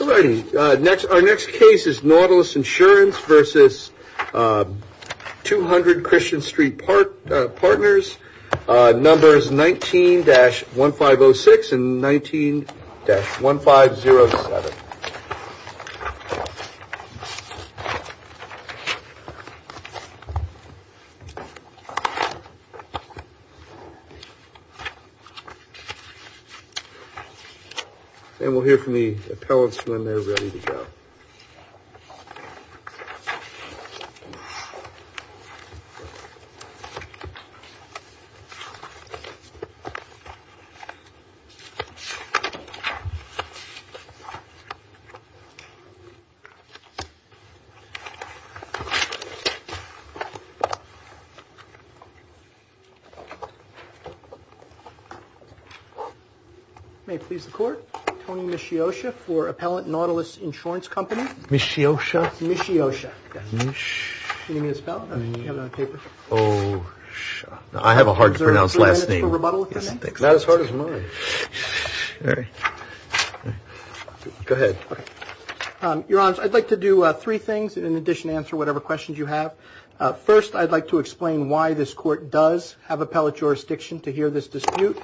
Our next case is Nautilus Insurance v. 200Christian Stret Partners, numbers 19-1506 and 19-1507. And we'll hear from the appellants when they're ready to go. May it please the Court. Your Honor, I'd like to do three things in addition to answer whatever questions you have. First, I'd like to explain why this Court does have appellate jurisdiction to hear this dispute.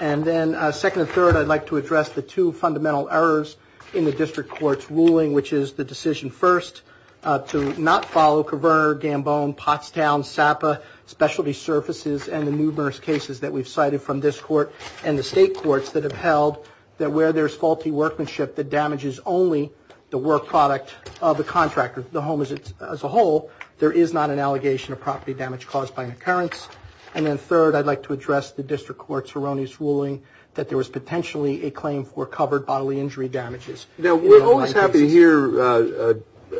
And then second and third, I'd like to address the two fundamental errors in the District Court's ruling, which is the decision first to not follow Kverner, Gambone, Pottstown, Sapa specialty surfaces and the numerous cases that we've cited from this Court and the State Courts that have held that where there's faulty workmanship that damages only the work product of the contractor, the home as a whole, there is not an allegation of property damage caused by an occurrence. And then third, I'd like to address the District Court's erroneous ruling that there was potentially a claim for covered bodily injury damages. Now, we're always happy to hear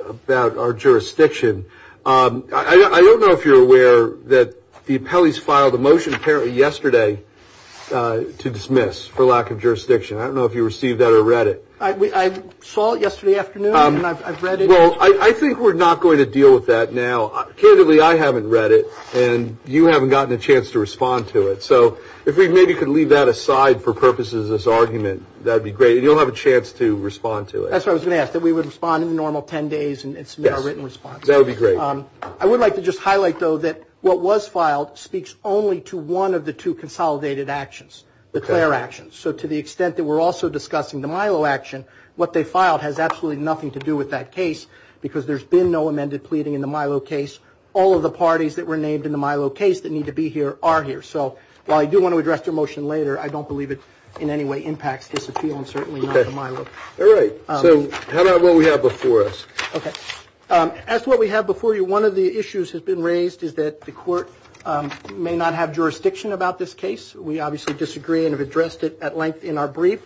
about our jurisdiction. I don't know if you're aware that the appellees filed a motion apparently yesterday to dismiss for lack of jurisdiction. I don't know if you received that or read it. I saw it yesterday afternoon and I've read it. Well, I think we're not going to deal with that now. Candidly, I haven't read it and you haven't gotten a chance to respond to it. So if we maybe could leave that aside for purposes of this argument, that would be great. You'll have a chance to respond to it. That's what I was going to ask, that we would respond in the normal 10 days and submit our written response. Yes, that would be great. I would like to just highlight, though, that what was filed speaks only to one of the two consolidated actions, the Clare actions. So to the extent that we're also discussing the Milo action, what they filed has absolutely nothing to do with that case because there's been no amended pleading in the Milo case. All of the parties that were named in the Milo case that need to be here are here. So while I do want to address your motion later, I don't believe it in any way impacts this appeal and certainly not the Milo. All right. So how about what we have before us? Okay. As to what we have before you, one of the issues that's been raised is that the court may not have jurisdiction about this case. We obviously disagree and have addressed it at length in our brief.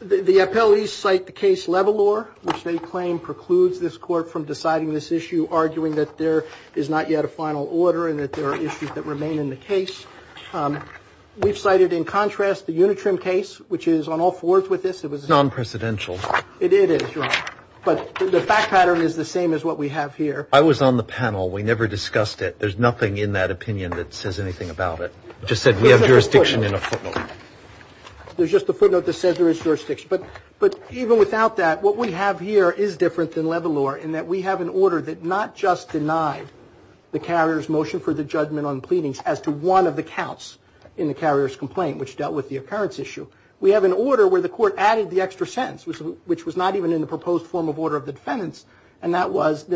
The appellees cite the case Levalor, which they claim precludes this court from deciding this issue, arguing that there is not yet a final order and that there are issues that remain in the case. We've cited, in contrast, the Unitrim case, which is on all fours with this. It was non-precedential. It is, but the fact pattern is the same as what we have here. I was on the panel. We never discussed it. There's nothing in that opinion that says anything about it. You just said we have jurisdiction in a footnote. There's just a footnote that says there is jurisdiction. But even without that, what we have here is different than Levalor in that we have an order that not just denied the carrier's motion for the judgment on pleadings as to one of the counts in the carrier's complaint, which dealt with the occurrence issue. We have an order where the court added the extra sentence, which was not even in the proposed form of order of the defendants, so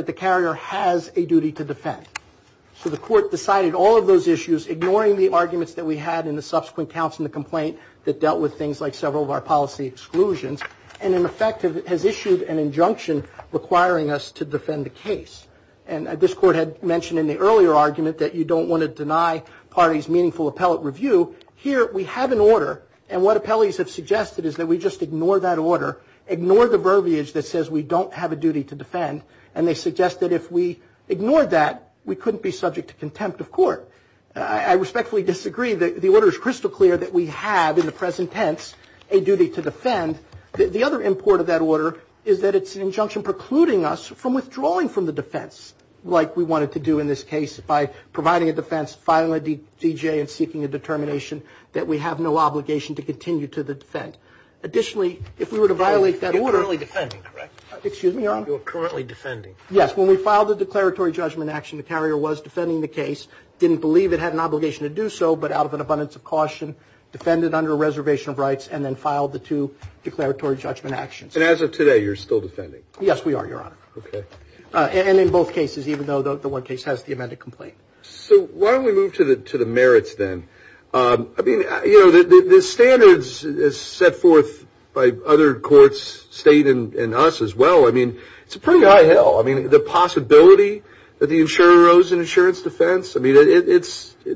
the court decided all of those issues, ignoring the arguments that we had in the subsequent counts in the complaint that dealt with things like several of our policy exclusions, and, in effect, has issued an injunction requiring us to defend the case. And this court had mentioned in the earlier argument that you don't want to deny parties meaningful appellate review. Here we have an order, and what appellees have suggested is that we just ignore that order, ignore the verbiage that says we don't have a duty to defend, and they suggest that if we ignored that, we couldn't be subject to contempt of court. I respectfully disagree. The order is crystal clear that we have, in the present tense, a duty to defend. The other import of that order is that it's an injunction precluding us from withdrawing from the defense, like we wanted to do in this case by providing a defense, filing a D.J., and seeking a determination that we have no obligation to continue to defend. Additionally, if we were to violate that order — You're currently defending, correct? Excuse me, Your Honor? You're currently defending. Yes, when we filed the declaratory judgment action, the carrier was defending the case, didn't believe it had an obligation to do so, but out of an abundance of caution, defended under a reservation of rights, and then filed the two declaratory judgment actions. And as of today, you're still defending? Yes, we are, Your Honor. Okay. And in both cases, even though the one case has the amended complaint. So why don't we move to the merits then? I mean, you know, the standards set forth by other courts, State and us as well, I mean, it's a pretty high hill. I mean, the possibility that the insurer owes an insurance defense, I mean, it's a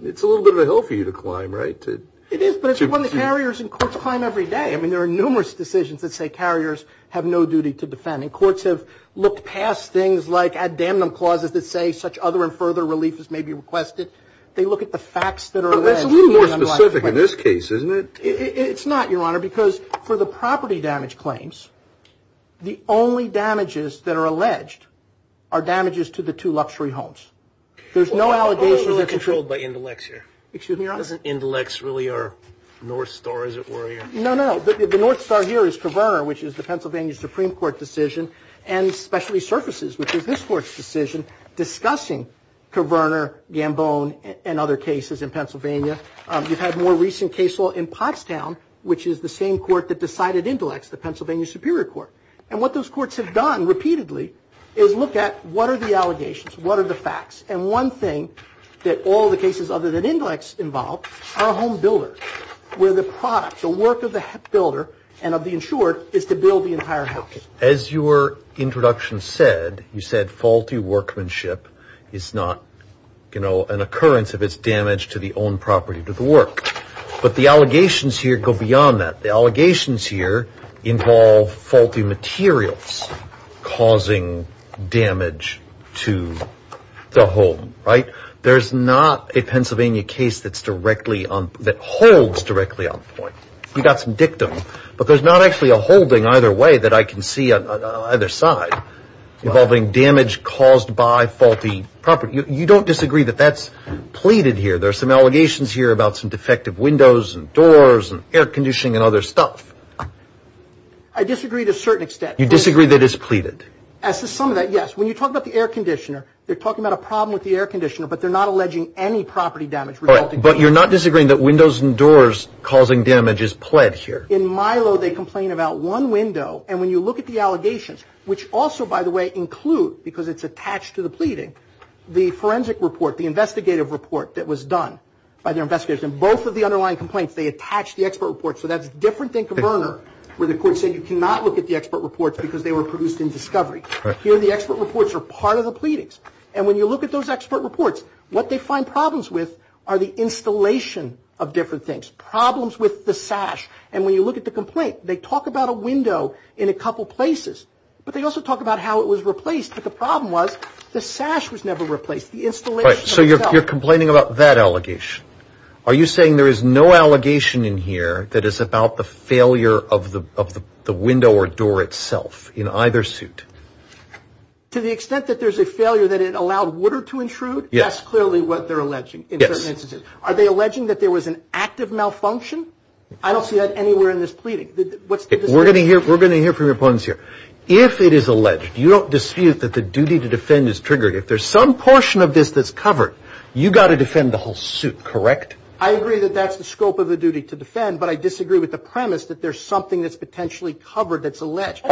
little bit of a hill for you to climb, right? It is, but it's one that carriers and courts climb every day. I mean, there are numerous decisions that say carriers have no duty to defend. And courts have looked past things like addamnum clauses that say such other and further relief as may be requested. They look at the facts that are alleged. But that's a little more specific in this case, isn't it? It's not, Your Honor, because for the property damage claims, the only damages that are alleged are damages to the two luxury homes. There's no allegations that control. I'm a little controlled by Indilex here. Excuse me, Your Honor? Doesn't Indilex really are North Star, as it were, here? No, no. The North Star here is Covernor, which is the Pennsylvania Supreme Court decision, and especially surfaces, which is this court's decision, discussing Covernor, Gambon, and other cases in Pennsylvania. You've had more recent case law in Pottstown, which is the same court that decided Indilex, the Pennsylvania Superior Court. And what those courts have done repeatedly is look at what are the allegations, what are the facts. And one thing that all the cases other than Indilex involve are home builders, where the product, the work of the builder and of the insured, is to build the entire house. As your introduction said, you said faulty workmanship is not, you know, an occurrence if it's damage to the own property, to the work. But the allegations here go beyond that. The allegations here involve faulty materials causing damage to the home, right? There's not a Pennsylvania case that holds directly on the point. You've got some dictum, but there's not actually a holding either way that I can see on either side involving damage caused by faulty property. You don't disagree that that's pleaded here. There are some allegations here about some defective windows and doors and air conditioning and other stuff. I disagree to a certain extent. You disagree that it's pleaded. As to some of that, yes. When you talk about the air conditioner, you're talking about a problem with the air conditioner, but they're not alleging any property damage resulting from that. But you're not disagreeing that windows and doors causing damage is pled here. In Milo, they complain about one window. And when you look at the allegations, which also, by the way, include, because it's attached to the pleading, the forensic report, the investigative report that was done by the investigators, and both of the underlying complaints, they attach the expert reports. So that's different than Converner, where the court said you cannot look at the expert reports because they were produced in discovery. Here, the expert reports are part of the pleadings. And when you look at those expert reports, what they find problems with are the installation of different things, problems with the sash. And when you look at the complaint, they talk about a window in a couple places, but they also talk about how it was replaced. But the problem was the sash was never replaced, the installation itself. So you're complaining about that allegation. Are you saying there is no allegation in here that is about the failure of the window or door itself in either suit? To the extent that there's a failure that it allowed water to intrude, that's clearly what they're alleging in certain instances. Are they alleging that there was an active malfunction? I don't see that anywhere in this pleading. We're going to hear from your opponents here. If it is alleged, you don't dispute that the duty to defend is triggered. If there's some portion of this that's covered, you've got to defend the whole suit, correct? I agree that that's the scope of the duty to defend, but I disagree with the premise that there's something that's potentially covered that's alleged.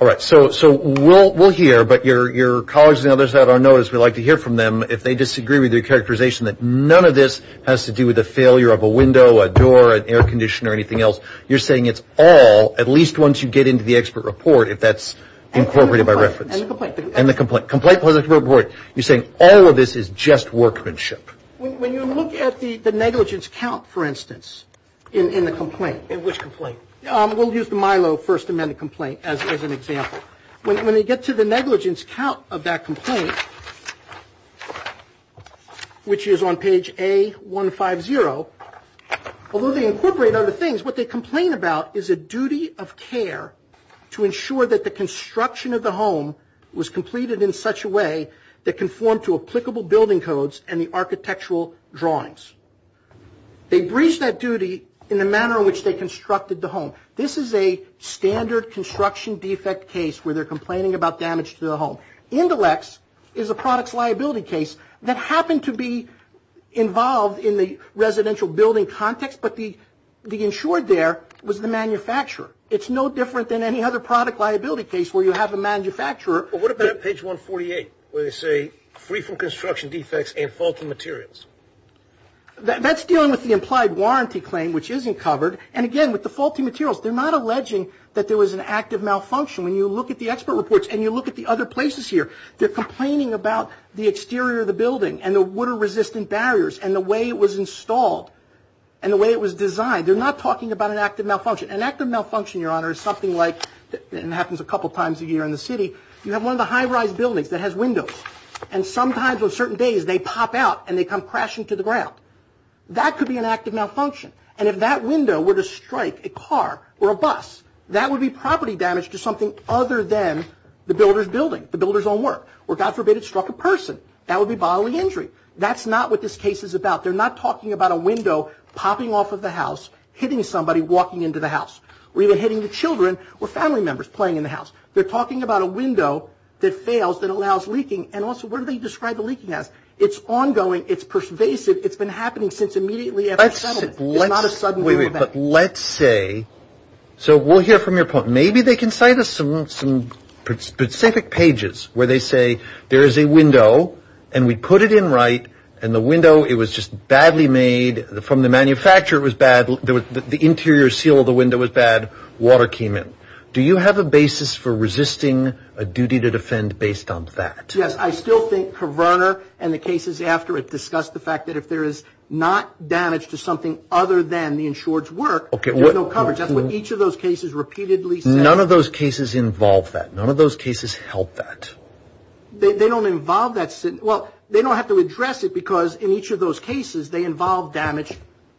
All right. So we'll hear, but your colleagues and others that are on notice, we'd like to hear from them if they disagree with your characterization that none of this has to do with the failure of a window, a door, an air conditioner, or anything else. You're saying it's all, at least once you get into the expert report, if that's incorporated by reference. And the complaint. And the complaint. Complaint plus expert report. You're saying all of this is just workmanship. When you look at the negligence count, for instance, in the complaint. In which complaint? We'll use the Milo First Amendment complaint as an example. When you get to the negligence count of that complaint, which is on page A150, although they incorporate other things, what they complain about is a duty of care to ensure that the construction of the home was completed in such a way that conformed to applicable building codes and the architectural drawings. They breached that duty in the manner in which they constructed the home. This is a standard construction defect case where they're complaining about damage to the home. Indelex is a products liability case that happened to be involved in the residential building context, but the insured there was the manufacturer. It's no different than any other product liability case where you have a manufacturer. But what about page 148 where they say free from construction defects and faulty materials? That's dealing with the implied warranty claim, which isn't covered. And, again, with the faulty materials. They're not alleging that there was an active malfunction. When you look at the expert reports and you look at the other places here, they're complaining about the exterior of the building and the water-resistant barriers and the way it was installed and the way it was designed. They're not talking about an active malfunction. An active malfunction, Your Honor, is something like, and it happens a couple times a year in the city, you have one of the high-rise buildings that has windows. And sometimes on certain days they pop out and they come crashing to the ground. That could be an active malfunction. And if that window were to strike a car or a bus, that would be property damage to something other than the builder's building, the builder's own work. Or, God forbid, it struck a person. That would be bodily injury. That's not what this case is about. They're not talking about a window popping off of the house, hitting somebody walking into the house, or even hitting the children or family members playing in the house. They're talking about a window that fails, that allows leaking. And also, what do they describe the leaking as? It's ongoing. It's pervasive. It's been happening since immediately after the settlement. It's not a sudden boom event. But let's say, so we'll hear from your point. Maybe they can cite us some specific pages where they say there is a window, and we put it in right, and the window, it was just badly made. From the manufacturer, it was bad. The interior seal of the window was bad. Water came in. Do you have a basis for resisting a duty to defend based on that? Yes. I still think Coverner and the cases after it discuss the fact that if there is not damage to something other than the insured's work, there's no coverage. That's what each of those cases repeatedly say. None of those cases involve that. None of those cases help that. They don't involve that. Well, they don't have to address it because in each of those cases, they involve damage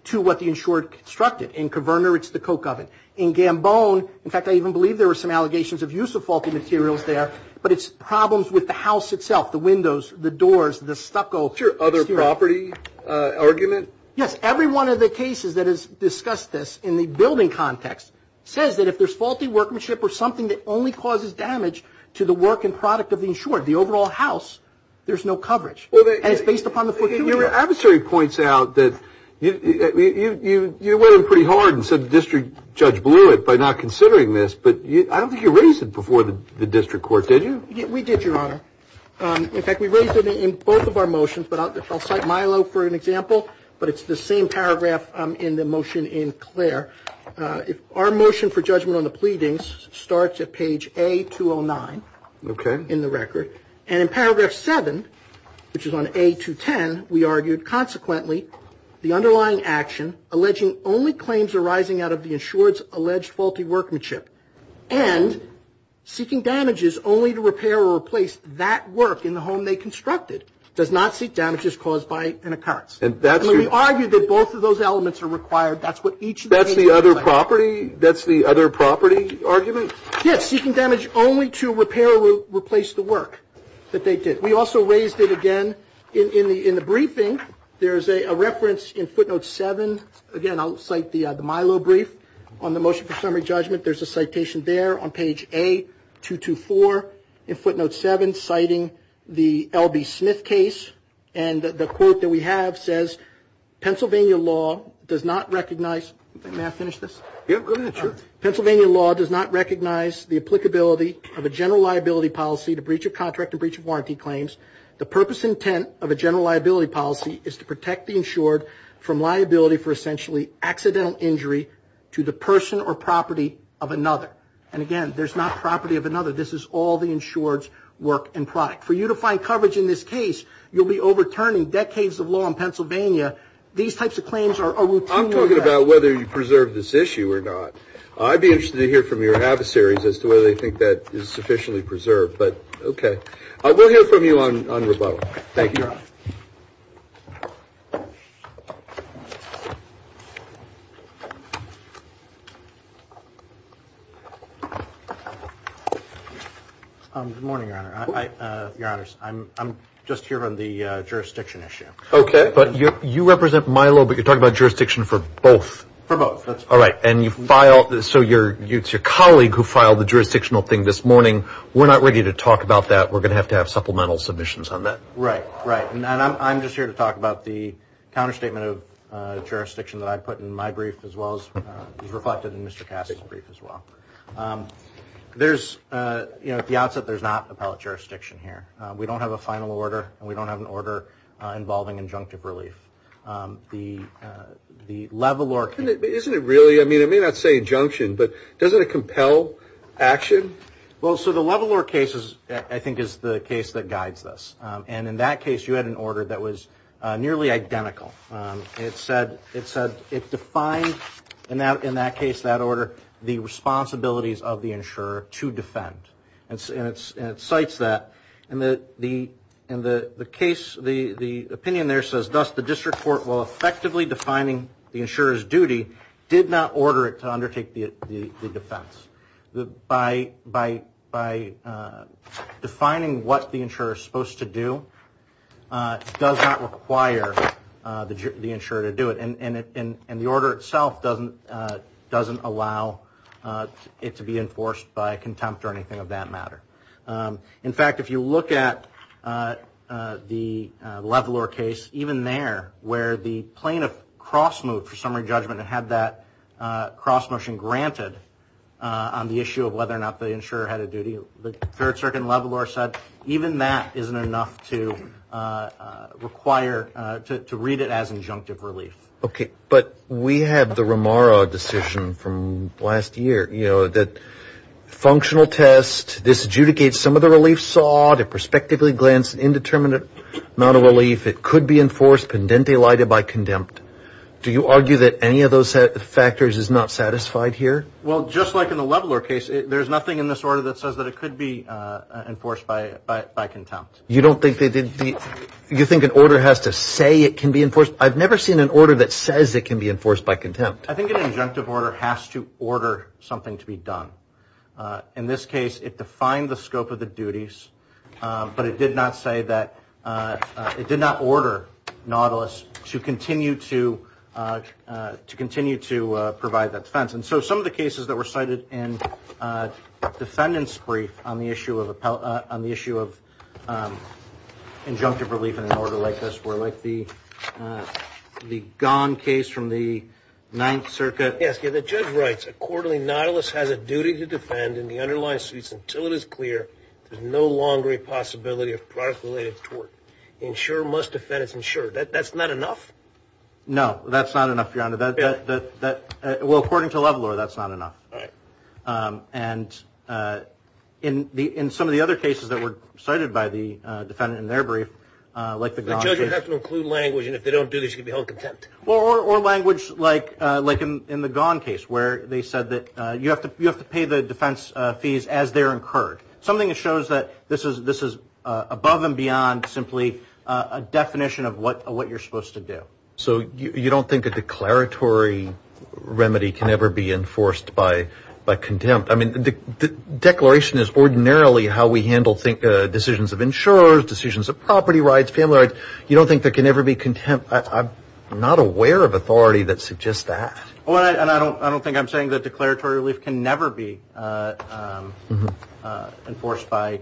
to what the insured constructed. In Coverner, it's the coke oven. In Gambone, in fact, I even believe there were some allegations of use of faulty materials there. But it's problems with the house itself, the windows, the doors, the stucco. Is there other property argument? Yes. Every one of the cases that has discussed this in the building context says that if there's faulty workmanship or something that only causes damage to the work and product of the insured, the overall house, there's no coverage. And it's based upon the fortuity. Your adversary points out that you went in pretty hard and said the district judge blew it by not considering this. But I don't think you raised it before the district court, did you? We did, Your Honor. In fact, we raised it in both of our motions. I'll cite Milo for an example. But it's the same paragraph in the motion in Clare. Our motion for judgment on the pleadings starts at page A209 in the record. And in paragraph 7, which is on A210, we argued, consequently the underlying action alleging only claims arising out of the insured's alleged faulty workmanship and seeking damages only to repair or replace that work in the home they constructed does not seek damages caused by an occurrence. And we argued that both of those elements are required. That's what each of the statements say. That's the other property argument? Yes, seeking damage only to repair or replace the work that they did. We also raised it again in the briefing. There's a reference in footnote 7. Again, I'll cite the Milo brief on the motion for summary judgment. There's a citation there on page A224 in footnote 7 citing the L.B. Smith case. And the quote that we have says, Pennsylvania law does not recognize. May I finish this? Yeah, go ahead. Sure. Pennsylvania law does not recognize the applicability of a general liability policy to breach of contract and breach of warranty claims. The purpose and intent of a general liability policy is to protect the insured from liability for essentially accidental injury to the person or property of another. And, again, there's not property of another. This is all the insured's work and product. For you to find coverage in this case, you'll be overturning decades of law in Pennsylvania. These types of claims are routine. I'm talking about whether you preserve this issue or not. I'd be interested to hear from your adversaries as to whether they think that is sufficiently preserved. But, okay. We'll hear from you on rebuttal. Thank you. You're welcome. Thank you. Good morning, Your Honor. Your Honors, I'm just here on the jurisdiction issue. Okay. But you represent Milo, but you're talking about jurisdiction for both. For both. All right. And you file, so it's your colleague who filed the jurisdictional thing this morning. We're not ready to talk about that. We're going to have to have supplemental submissions on that. Right. Right. And I'm just here to talk about the counterstatement of the jurisdiction that I put in my brief, as well as was reflected in Mr. Cass' brief, as well. There's, you know, at the outset, there's not appellate jurisdiction here. We don't have a final order, and we don't have an order involving injunctive relief. The Levalor case... Isn't it really, I mean, it may not say injunction, but doesn't it compel action? Well, so the Levalor case, I think, is the case that guides this. And in that case, you had an order that was nearly identical. It said it defined, in that case, that order, the responsibilities of the insurer to defend. And it cites that. And the case, the opinion there says, thus the district court, while effectively defining the insurer's duty, did not order it to undertake the defense. By defining what the insurer is supposed to do, does not require the insurer to do it. And the order itself doesn't allow it to be enforced by contempt or anything of that matter. In fact, if you look at the Levalor case, even there, where the plaintiff cross-moved for summary judgment and had that cross-motion granted on the issue of whether or not the insurer had a duty, the Third Circuit in Levalor said even that isn't enough to require, to read it as injunctive relief. Okay, but we have the Romaro decision from last year, you know, that functional test, this adjudicates some of the relief sought, if it could be enforced, pendente lida by contempt, do you argue that any of those factors is not satisfied here? Well, just like in the Levalor case, there's nothing in this order that says that it could be enforced by contempt. You don't think they did? You think an order has to say it can be enforced? I've never seen an order that says it can be enforced by contempt. I think an injunctive order has to order something to be done. In this case, it defined the scope of the duties, but it did not say that, it did not order Nautilus to continue to provide that defense. And so some of the cases that were cited in defendant's brief on the issue of injunctive relief in an order like this were like the Gone case from the Ninth Circuit. Yes, the judge writes, accordingly Nautilus has a duty to defend in the underlying suits until it is clear there's no longer a possibility of product-related tort. Insure must defend its insurer. That's not enough? No, that's not enough, Your Honor. Well, according to Levalor, that's not enough. And in some of the other cases that were cited by the defendant in their brief, like the Gone case. The judge would have to include language, and if they don't do this, you could be held contempt. Or language like in the Gone case where they said that you have to pay the defense fees as they're incurred. Something that shows that this is above and beyond simply a definition of what you're supposed to do. So you don't think a declaratory remedy can ever be enforced by contempt? I mean, the declaration is ordinarily how we handle decisions of insurers, decisions of property rights, family rights. You don't think there can ever be contempt? I'm not aware of authority that suggests that. And I don't think I'm saying that declaratory relief can never be enforced by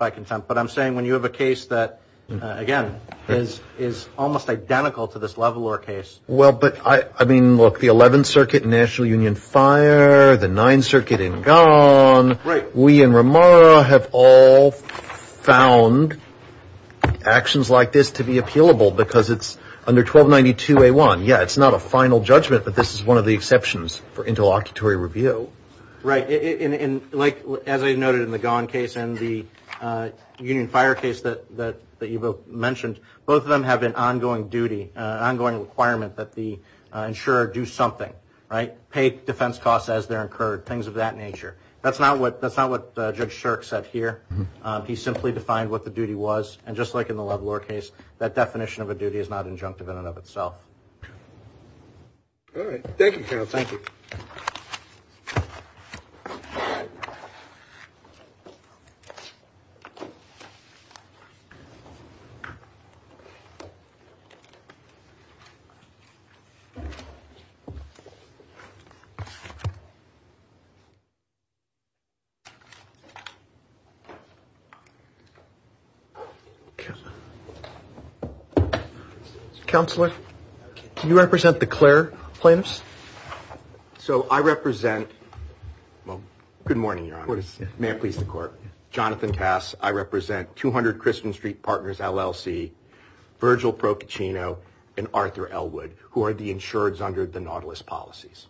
contempt. But I'm saying when you have a case that, again, is almost identical to this Levalor case. Well, but I mean, look, the 11th Circuit in National Union Fire, the 9th Circuit in Gone. We in Ramara have all found actions like this to be appealable because it's under 1292A1. Yeah, it's not a final judgment, but this is one of the exceptions for interlocutory review. Right. And like, as I noted in the Gone case and the Union Fire case that you both mentioned, both of them have an ongoing duty, an ongoing requirement that the insurer do something, right, pay defense costs as they're incurred, things of that nature. That's not what Judge Shirk said here. He simply defined what the duty was. And just like in the Levalor case, that definition of a duty is not injunctive in and of itself. All right. Thank you, Carol. Thank you. Thank you. Counselor, can you represent the Clare plaintiffs? So I represent, well, good morning, Your Honor. May it please the court. Jonathan Cass. I represent 200 Christian Street Partners LLC, Virgil Procaccino, and Arthur Elwood, who are the insureds under the Nautilus policies.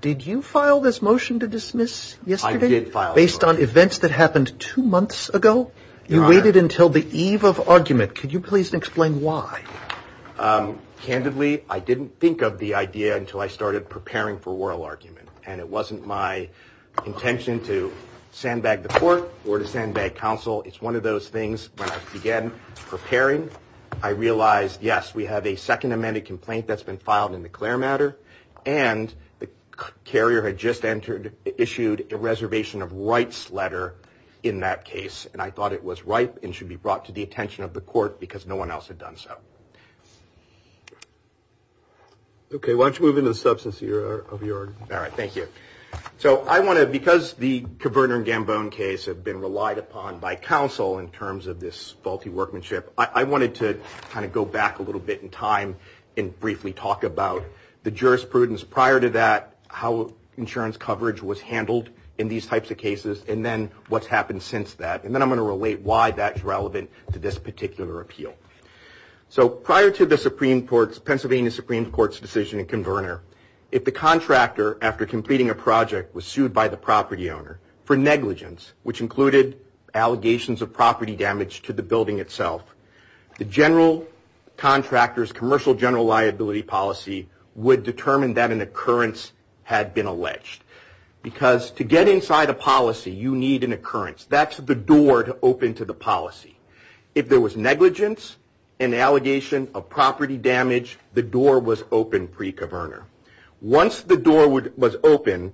Did you file this motion to dismiss yesterday? I did file it, Your Honor. Based on events that happened two months ago? Your Honor. You waited until the eve of argument. Could you please explain why? Candidly, I didn't think of the idea until I started preparing for oral argument. And it wasn't my intention to sandbag the court or to sandbag counsel. It's one of those things when I began preparing, I realized, yes, we have a second amended complaint that's been filed in the Clare matter. And the carrier had just issued a reservation of rights letter in that case. And I thought it was ripe and should be brought to the attention of the court because no one else had done so. Okay. Why don't you move into the substance of your argument? All right. Thank you. So I want to, because the Caberner and Gambone case have been relied upon by counsel in terms of this faulty workmanship, I wanted to kind of go back a little bit in time and briefly talk about the jurisprudence prior to that, how insurance coverage was handled in these types of cases, and then what's happened since that. And then I'm going to relate why that's relevant to this particular appeal. So prior to the Pennsylvania Supreme Court's decision in Caberner, if the contractor, after completing a project, was sued by the property owner for negligence, which included allegations of property damage to the building itself, the general contractor's commercial general liability policy would determine that an occurrence had been alleged. Because to get inside a policy, you need an occurrence. That's the door to open to the policy. If there was negligence, an allegation of property damage, the door was open pre-Caberner. Once the door was open,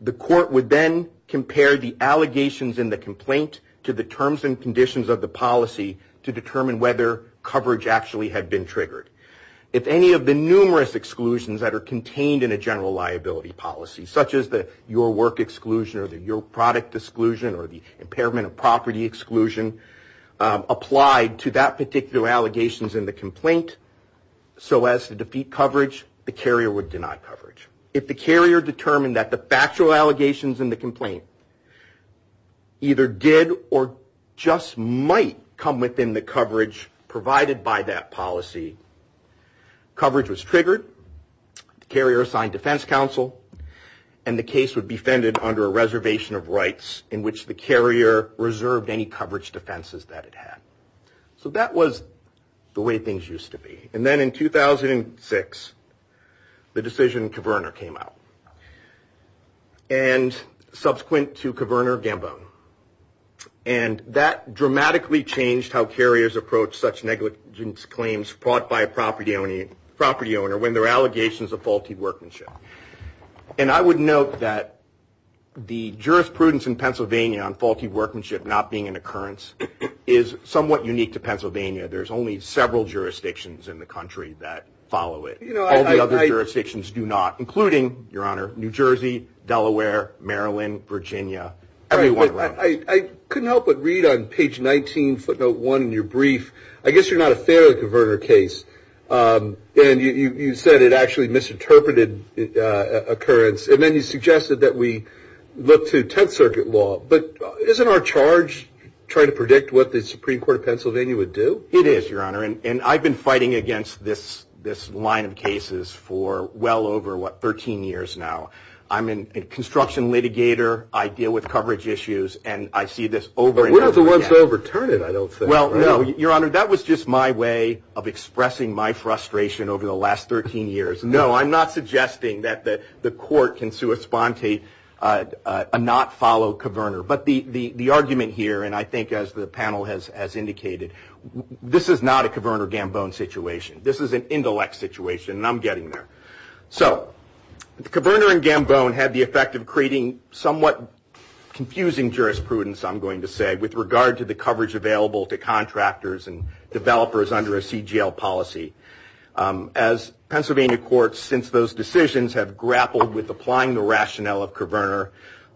the court would then compare the allegations in the complaint to the terms and conditions of the policy to determine whether coverage actually had been triggered. If any of the numerous exclusions that are contained in a general liability policy, such as the your work exclusion or the your product exclusion or the impairment of property exclusion, applied to that particular allegations in the complaint, so as to defeat coverage, the carrier would deny coverage. If the carrier determined that the factual allegations in the complaint either did or just might come within the coverage provided by that policy, coverage was triggered, the carrier assigned defense counsel, and the case would be fended under a reservation of rights in which the carrier reserved any coverage defenses that it had. So that was the way things used to be. And then in 2006, the decision in Caberner came out. And subsequent to Caberner, Gambone. And that dramatically changed how carriers approach such negligence claims brought by a property owner when there are allegations of faulty workmanship. And I would note that the jurisprudence in Pennsylvania on faulty workmanship not being an occurrence is somewhat unique to Pennsylvania. There's only several jurisdictions in the country that follow it. All the other jurisdictions do not, including, Your Honor, New Jersey, Delaware, Maryland, Virginia, everyone around us. I couldn't help but read on page 19, footnote 1 in your brief, I guess you're not a fairly converted case. And you said it actually misinterpreted occurrence. And then you suggested that we look to Tenth Circuit law. But isn't our charge trying to predict what the Supreme Court of Pennsylvania would do? It is, Your Honor. And I've been fighting against this line of cases for well over, what, 13 years now. I'm a construction litigator. I deal with coverage issues. And I see this over and over again. But we're not the ones to overturn it, I don't think. Well, no, Your Honor, that was just my way of expressing my frustration over the last 13 years. No, I'm not suggesting that the court can sui sponte a not follow Coverner. But the argument here, and I think as the panel has indicated, this is not a Coverner-Gambone situation. This is an intellect situation, and I'm getting there. So the Coverner and Gambone had the effect of creating somewhat confusing jurisprudence, I'm going to say, with regard to the coverage available to contractors and developers under a CGL policy. As Pennsylvania courts, since those decisions, have grappled with applying the rationale of Coverner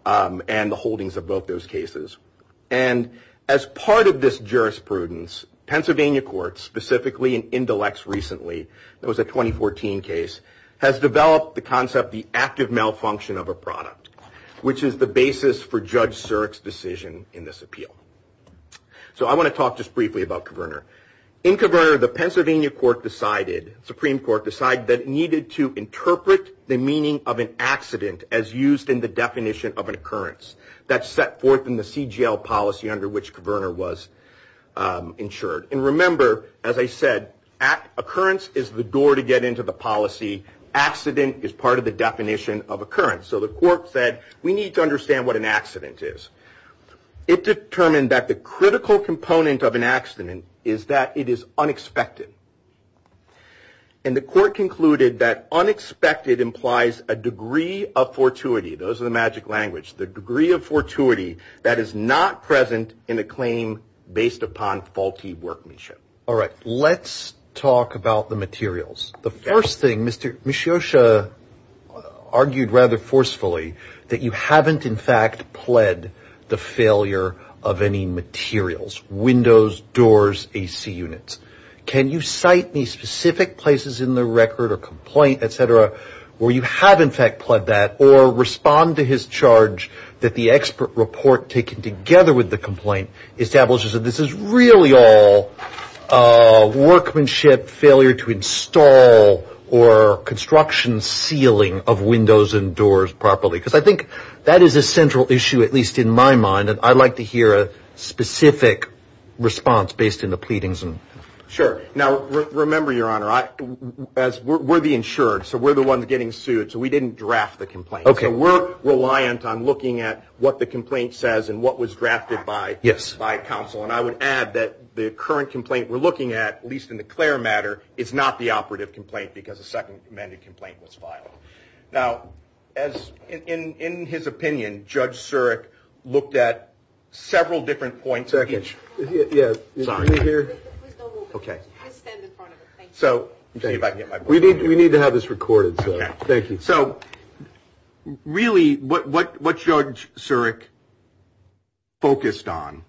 and the holdings of both those cases. And as part of this jurisprudence, Pennsylvania courts, specifically in Indelex recently, there was a 2014 case, has developed the concept, the active malfunction of a product, which is the basis for Judge Surik's decision in this appeal. So I want to talk just briefly about Coverner. In Coverner, the Pennsylvania court decided, Supreme Court decided, that it needed to interpret the meaning of an accident as used in the definition of an occurrence. That's set forth in the CGL policy under which Coverner was insured. And remember, as I said, occurrence is the door to get into the policy. Accident is part of the definition of occurrence. So the court said, we need to understand what an accident is. It determined that the critical component of an accident is that it is unexpected. And the court concluded that unexpected implies a degree of fortuity. Those are the magic language. The degree of fortuity that is not present in a claim based upon faulty workmanship. All right. Let's talk about the materials. The first thing, Ms. Scioscia argued rather forcefully, that you haven't in fact pled the failure of any materials, windows, doors, AC units. Can you cite any specific places in the record or complaint, et cetera, where you have in fact pled that or respond to his charge that the expert report taken together with the complaint establishes that this is really all workmanship, failure to install or construction sealing of windows and doors properly? Because I think that is a central issue, at least in my mind, and I'd like to hear a specific response based on the pleadings. Sure. Now, remember, Your Honor, we're the insured, so we're the ones getting sued, so we didn't draft the complaint. So we're reliant on looking at what the complaint says and what was drafted by counsel. And I would add that the current complaint we're looking at, at least in the CLAIR matter, is not the operative complaint because the second amended complaint was filed. Now, in his opinion, Judge Surik looked at several different points. Second. Yes. Sorry. Please don't move it. Okay. Please stand in front of it. Thank you. We need to have this recorded, so thank you. So really what Judge Surik focused on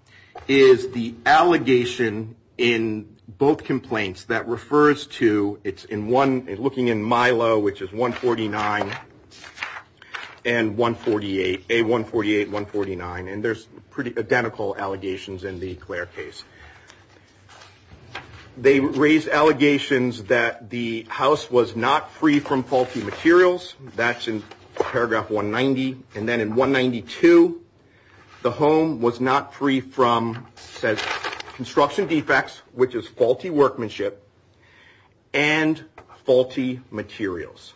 is the allegation in both complaints that refers to, it's in one, looking in Milo, which is 149 and 148, A148, 149, and there's pretty identical allegations in the CLAIR case. They raised allegations that the house was not free from faulty materials. That's in paragraph 190. And then in 192, the home was not free from construction defects, which is faulty workmanship, and faulty materials.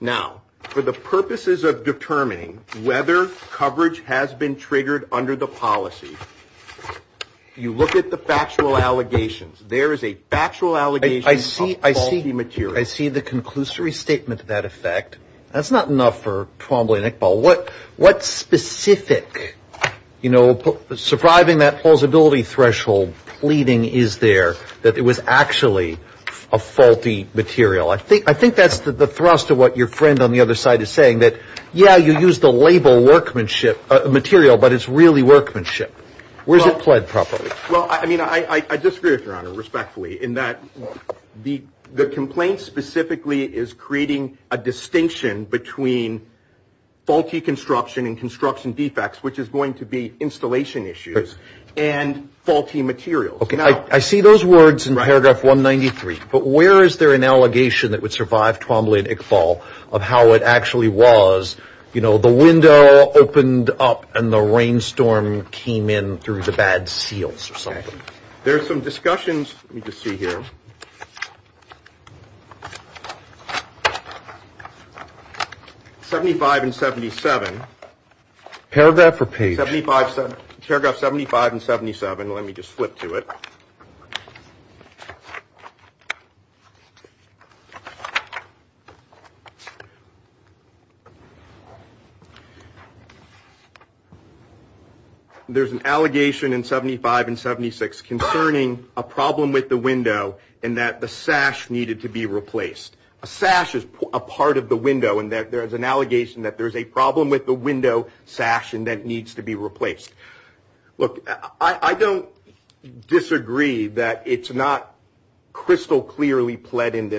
Now, for the purposes of determining whether coverage has been triggered under the policy, you look at the factual allegations. There is a factual allegation of faulty materials. I see the conclusory statement to that effect. That's not enough for Twombly and Iqbal. What specific, you know, surviving that plausibility threshold pleading is there, that it was actually a faulty material? I think that's the thrust of what your friend on the other side is saying, that, yeah, you use the label workmanship material, but it's really workmanship. Where's it pled properly? Well, I mean, I disagree with Your Honor respectfully in that the complaint specifically is creating a distinction between faulty construction and construction defects, which is going to be installation issues, and faulty materials. Okay, I see those words in paragraph 193, but where is there an allegation that would survive Twombly and Iqbal of how it actually was, you know, the window opened up and the rainstorm came in through the bad seals or something? There's some discussions. Let me just see here. 75 and 77. Paragraph or page? There's an allegation in 75 and 76 concerning a problem with the window and that the sash needed to be replaced. A sash is a part of the window, and there's an allegation that there's a problem with the window sash and that it needs to be replaced. Look, I don't disagree that it's not crystal clearly pled in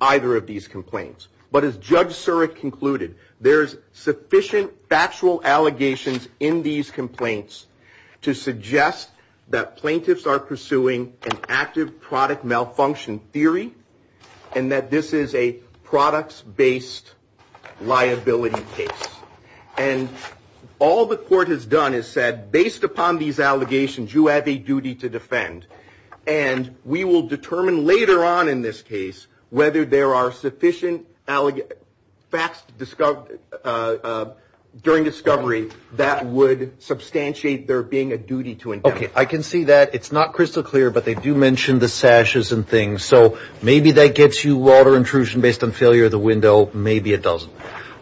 either of these complaints, but as Judge Surik concluded, there's sufficient factual allegations in these complaints to suggest that plaintiffs are pursuing an active product malfunction theory and that this is a products-based liability case. And all the court has done is said, based upon these allegations, you have a duty to defend. And we will determine later on in this case whether there are sufficient facts during discovery that would substantiate there being a duty to indict. Okay, I can see that. It's not crystal clear, but they do mention the sashes and things. So maybe that gets you water intrusion based on failure of the window. Maybe it doesn't.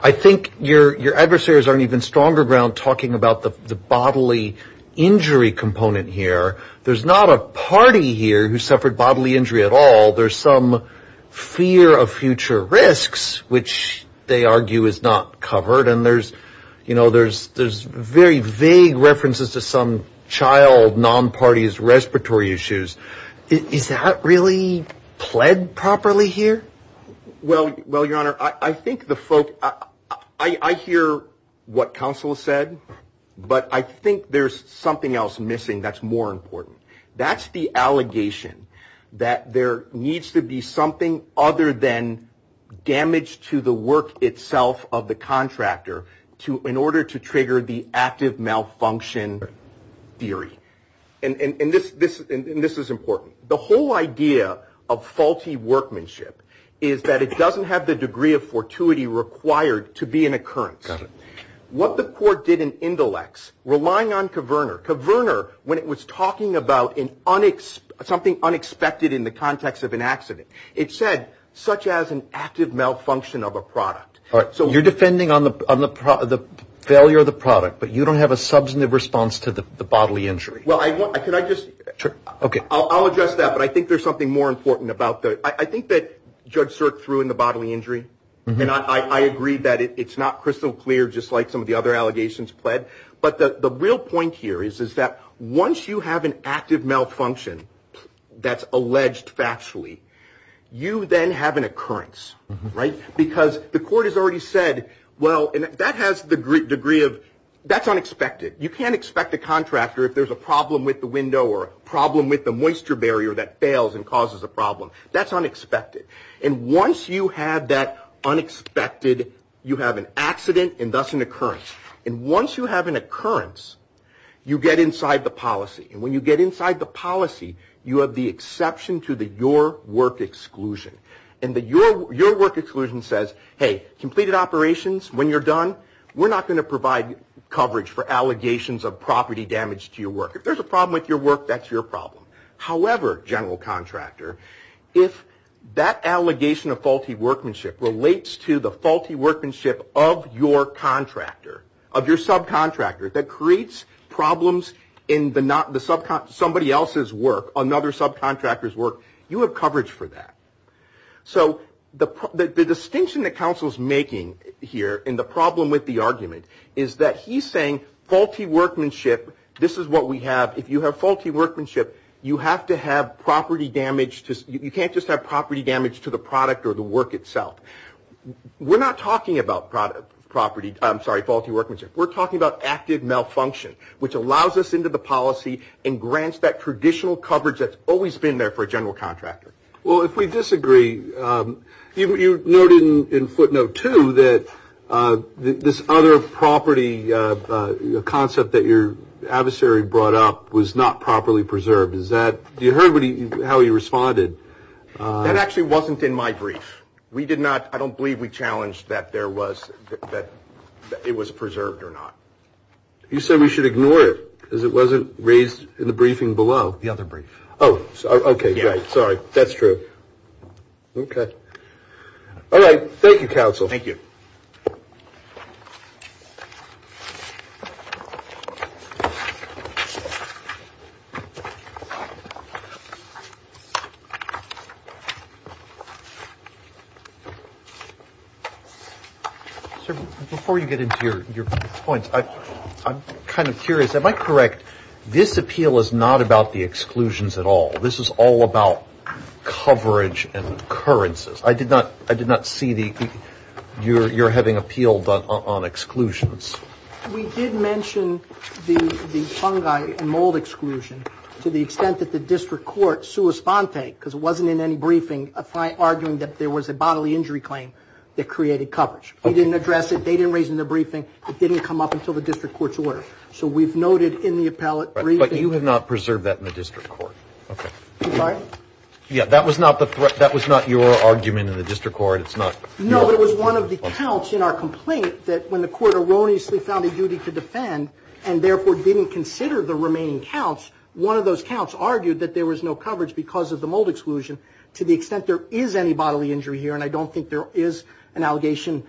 I think your adversaries are on even stronger ground talking about the bodily injury component here. There's not a party here who suffered bodily injury at all. There's some fear of future risks, which they argue is not covered, and there's very vague references to some child non-party's respiratory issues. Is that really pled properly here? Well, your Honor, I think the folk, I hear what counsel said, but I think there's something else missing that's more important. That's the allegation that there needs to be something other than damage to the work itself of the contractor in order to trigger the active malfunction theory. And this is important. The whole idea of faulty workmanship is that it doesn't have the degree of fortuity required to be an occurrence. Got it. What the court did in Indolex, relying on Kverner. Kverner, when it was talking about something unexpected in the context of an accident, it said such as an active malfunction of a product. You're defending on the failure of the product, but you don't have a substantive response to the bodily injury. Well, can I just, I'll address that, but I think there's something more important about that. I think that Judge Sirk threw in the bodily injury, and I agree that it's not crystal clear just like some of the other allegations pled, but the real point here is that once you have an active malfunction that's alleged factually, you then have an occurrence, right? Because the court has already said, well, and that has the degree of, that's unexpected. You can't expect a contractor if there's a problem with the window or a problem with the moisture barrier that fails and causes a problem. That's unexpected. And once you have that unexpected, you have an accident and thus an occurrence. And once you have an occurrence, you get inside the policy. And when you get inside the policy, you have the exception to the your work exclusion. And your work exclusion says, hey, completed operations, when you're done, we're not going to provide coverage for allegations of property damage to your work. If there's a problem with your work, that's your problem. However, general contractor, if that allegation of faulty workmanship relates to the faulty workmanship of your contractor, of your subcontractor that creates problems in somebody else's work, another subcontractor's work, you have coverage for that. So the distinction that counsel's making here in the problem with the argument is that he's saying faulty workmanship. This is what we have. If you have faulty workmanship, you have to have property damage. You can't just have property damage to the product or the work itself. We're not talking about property, I'm sorry, faulty workmanship. We're talking about active malfunction, which allows us into the policy and grants that traditional coverage that's always been there for a general contractor. Well, if we disagree, you noted in footnote two that this other property, a concept that your adversary brought up was not properly preserved. Is that, you heard how he responded. That actually wasn't in my brief. We did not, I don't believe we challenged that there was, that it was preserved or not. You said we should ignore it because it wasn't raised in the briefing below. The other brief. Oh, OK. Sorry. That's true. OK. All right. Thank you, counsel. Thank you. Before you get into your points, I'm kind of curious. Am I correct? This appeal is not about the exclusions at all. This is all about coverage and occurrences. I did not see the, you're having appeal on exclusions. We did mention the fungi and mold exclusion to the extent that the district court sua sponte, because it wasn't in any briefing, arguing that there was a bodily injury claim that created coverage. We didn't address it. They didn't raise it in their briefing. It didn't come up until the district court's order. So we've noted in the appellate briefing. But you have not preserved that in the district court. OK. I'm sorry? Yeah, that was not the threat. That was not your argument in the district court. It's not. No, it was one of the counts in our complaint that when the court erroneously found a duty to defend and therefore didn't consider the remaining counts, one of those counts argued that there was no coverage because of the mold exclusion to the extent there is any bodily injury here. And I don't think there is an allegation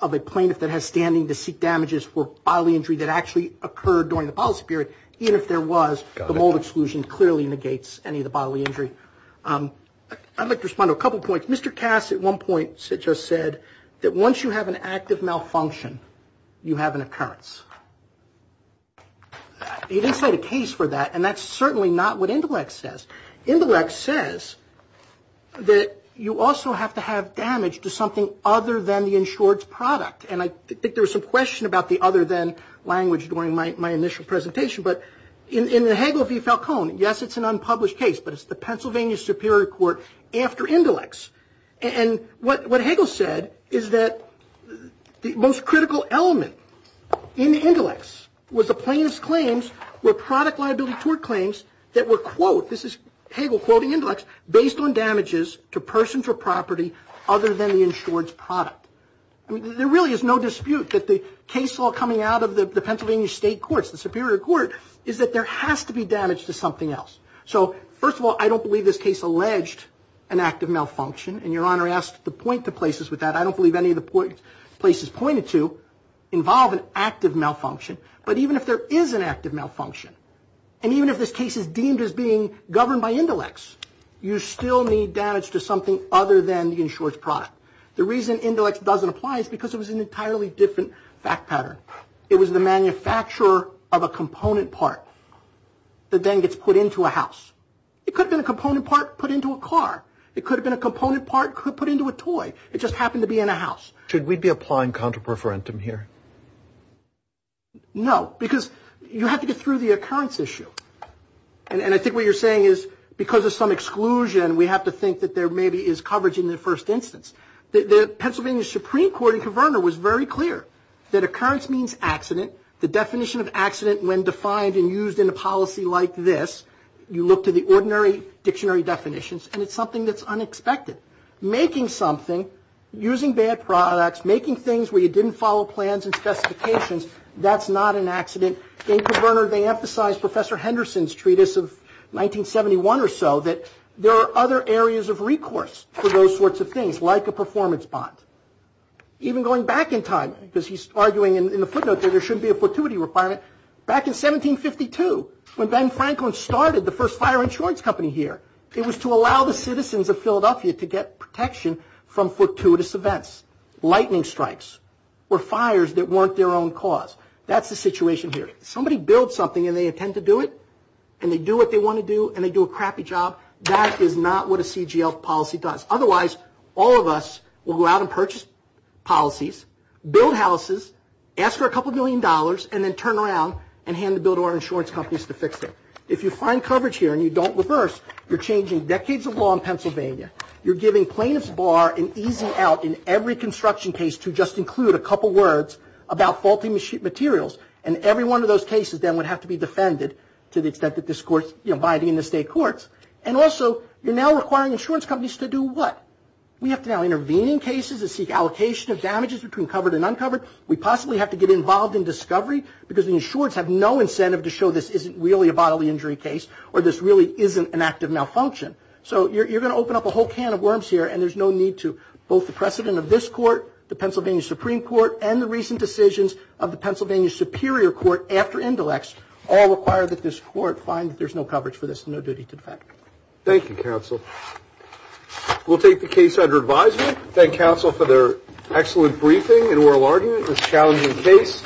of a plaintiff that has standing to for bodily injury that actually occurred during the policy period, even if there was. Got it. The mold exclusion clearly negates any of the bodily injury. I'd like to respond to a couple points. Mr. Cass at one point just said that once you have an active malfunction, you have an occurrence. He didn't cite a case for that. And that's certainly not what Intellect says. insured's product. And I think there was some question about the other than language during my initial presentation. But in the Hagel v. Falcone, yes, it's an unpublished case, but it's the Pennsylvania Superior Court after Intellect's. And what Hagel said is that the most critical element in Intellect's was the plaintiff's claims were product liability tort claims that were, quote, this is Hagel quoting Intellect's, based on damages to persons or property other than the insured's product. I mean, there really is no dispute that the case law coming out of the Pennsylvania State Courts, the Superior Court, is that there has to be damage to something else. So, first of all, I don't believe this case alleged an active malfunction. And Your Honor asked to point to places with that. I don't believe any of the places pointed to involve an active malfunction. But even if there is an active malfunction, and even if this case is deemed as being governed by Intellect's, you still need damage to something other than the insured's product. The reason Intellect's doesn't apply is because it was an entirely different fact pattern. It was the manufacturer of a component part that then gets put into a house. It could have been a component part put into a car. It could have been a component part put into a toy. It just happened to be in a house. Should we be applying contra preferentum here? No, because you have to get through the occurrence issue. And I think what you're saying is because of some exclusion, we have to think that there maybe is coverage in the first instance. The Pennsylvania Supreme Court in Converner was very clear that occurrence means accident. The definition of accident when defined and used in a policy like this, you look to the ordinary dictionary definitions, and it's something that's unexpected. Making something, using bad products, making things where you didn't follow plans and specifications, that's not an accident. In Converner, they emphasize Professor Henderson's treatise of 1971 or so, that there are other areas of recourse for those sorts of things, like a performance bond. Even going back in time, because he's arguing in the footnote that there shouldn't be a fortuity requirement, back in 1752, when Ben Franklin started the first fire insurance company here, it was to allow the citizens of Philadelphia to get protection from fortuitous events. Lightning strikes were fires that weren't their own cause. That's the situation here. If somebody builds something and they intend to do it, and they do what they want to do, and they do a crappy job, that is not what a CGL policy does. Otherwise, all of us will go out and purchase policies, build houses, ask for a couple million dollars, and then turn around and hand the bill to our insurance companies to fix it. If you find coverage here and you don't reverse, you're changing decades of law in Pennsylvania. You're giving plaintiffs bar and easing out in every construction case to just include a couple words about faulty materials, and every one of those cases then would have to be defended to the extent that this court's abiding in the state courts. And also, you're now requiring insurance companies to do what? We have to now intervene in cases and seek allocation of damages between covered and uncovered. We possibly have to get involved in discovery, because the insurers have no incentive to show this isn't really a bodily injury case, or this really isn't an act of malfunction. So you're going to open up a whole can of worms here, and there's no need to. Both the precedent of this court, the Pennsylvania Supreme Court, and the recent decisions of the Pennsylvania Superior Court after Indelex, all require that this court find that there's no coverage for this and no duty to defend. Thank you, counsel. We'll take the case under advisement. Thank counsel for their excellent briefing and oral argument in this challenging case.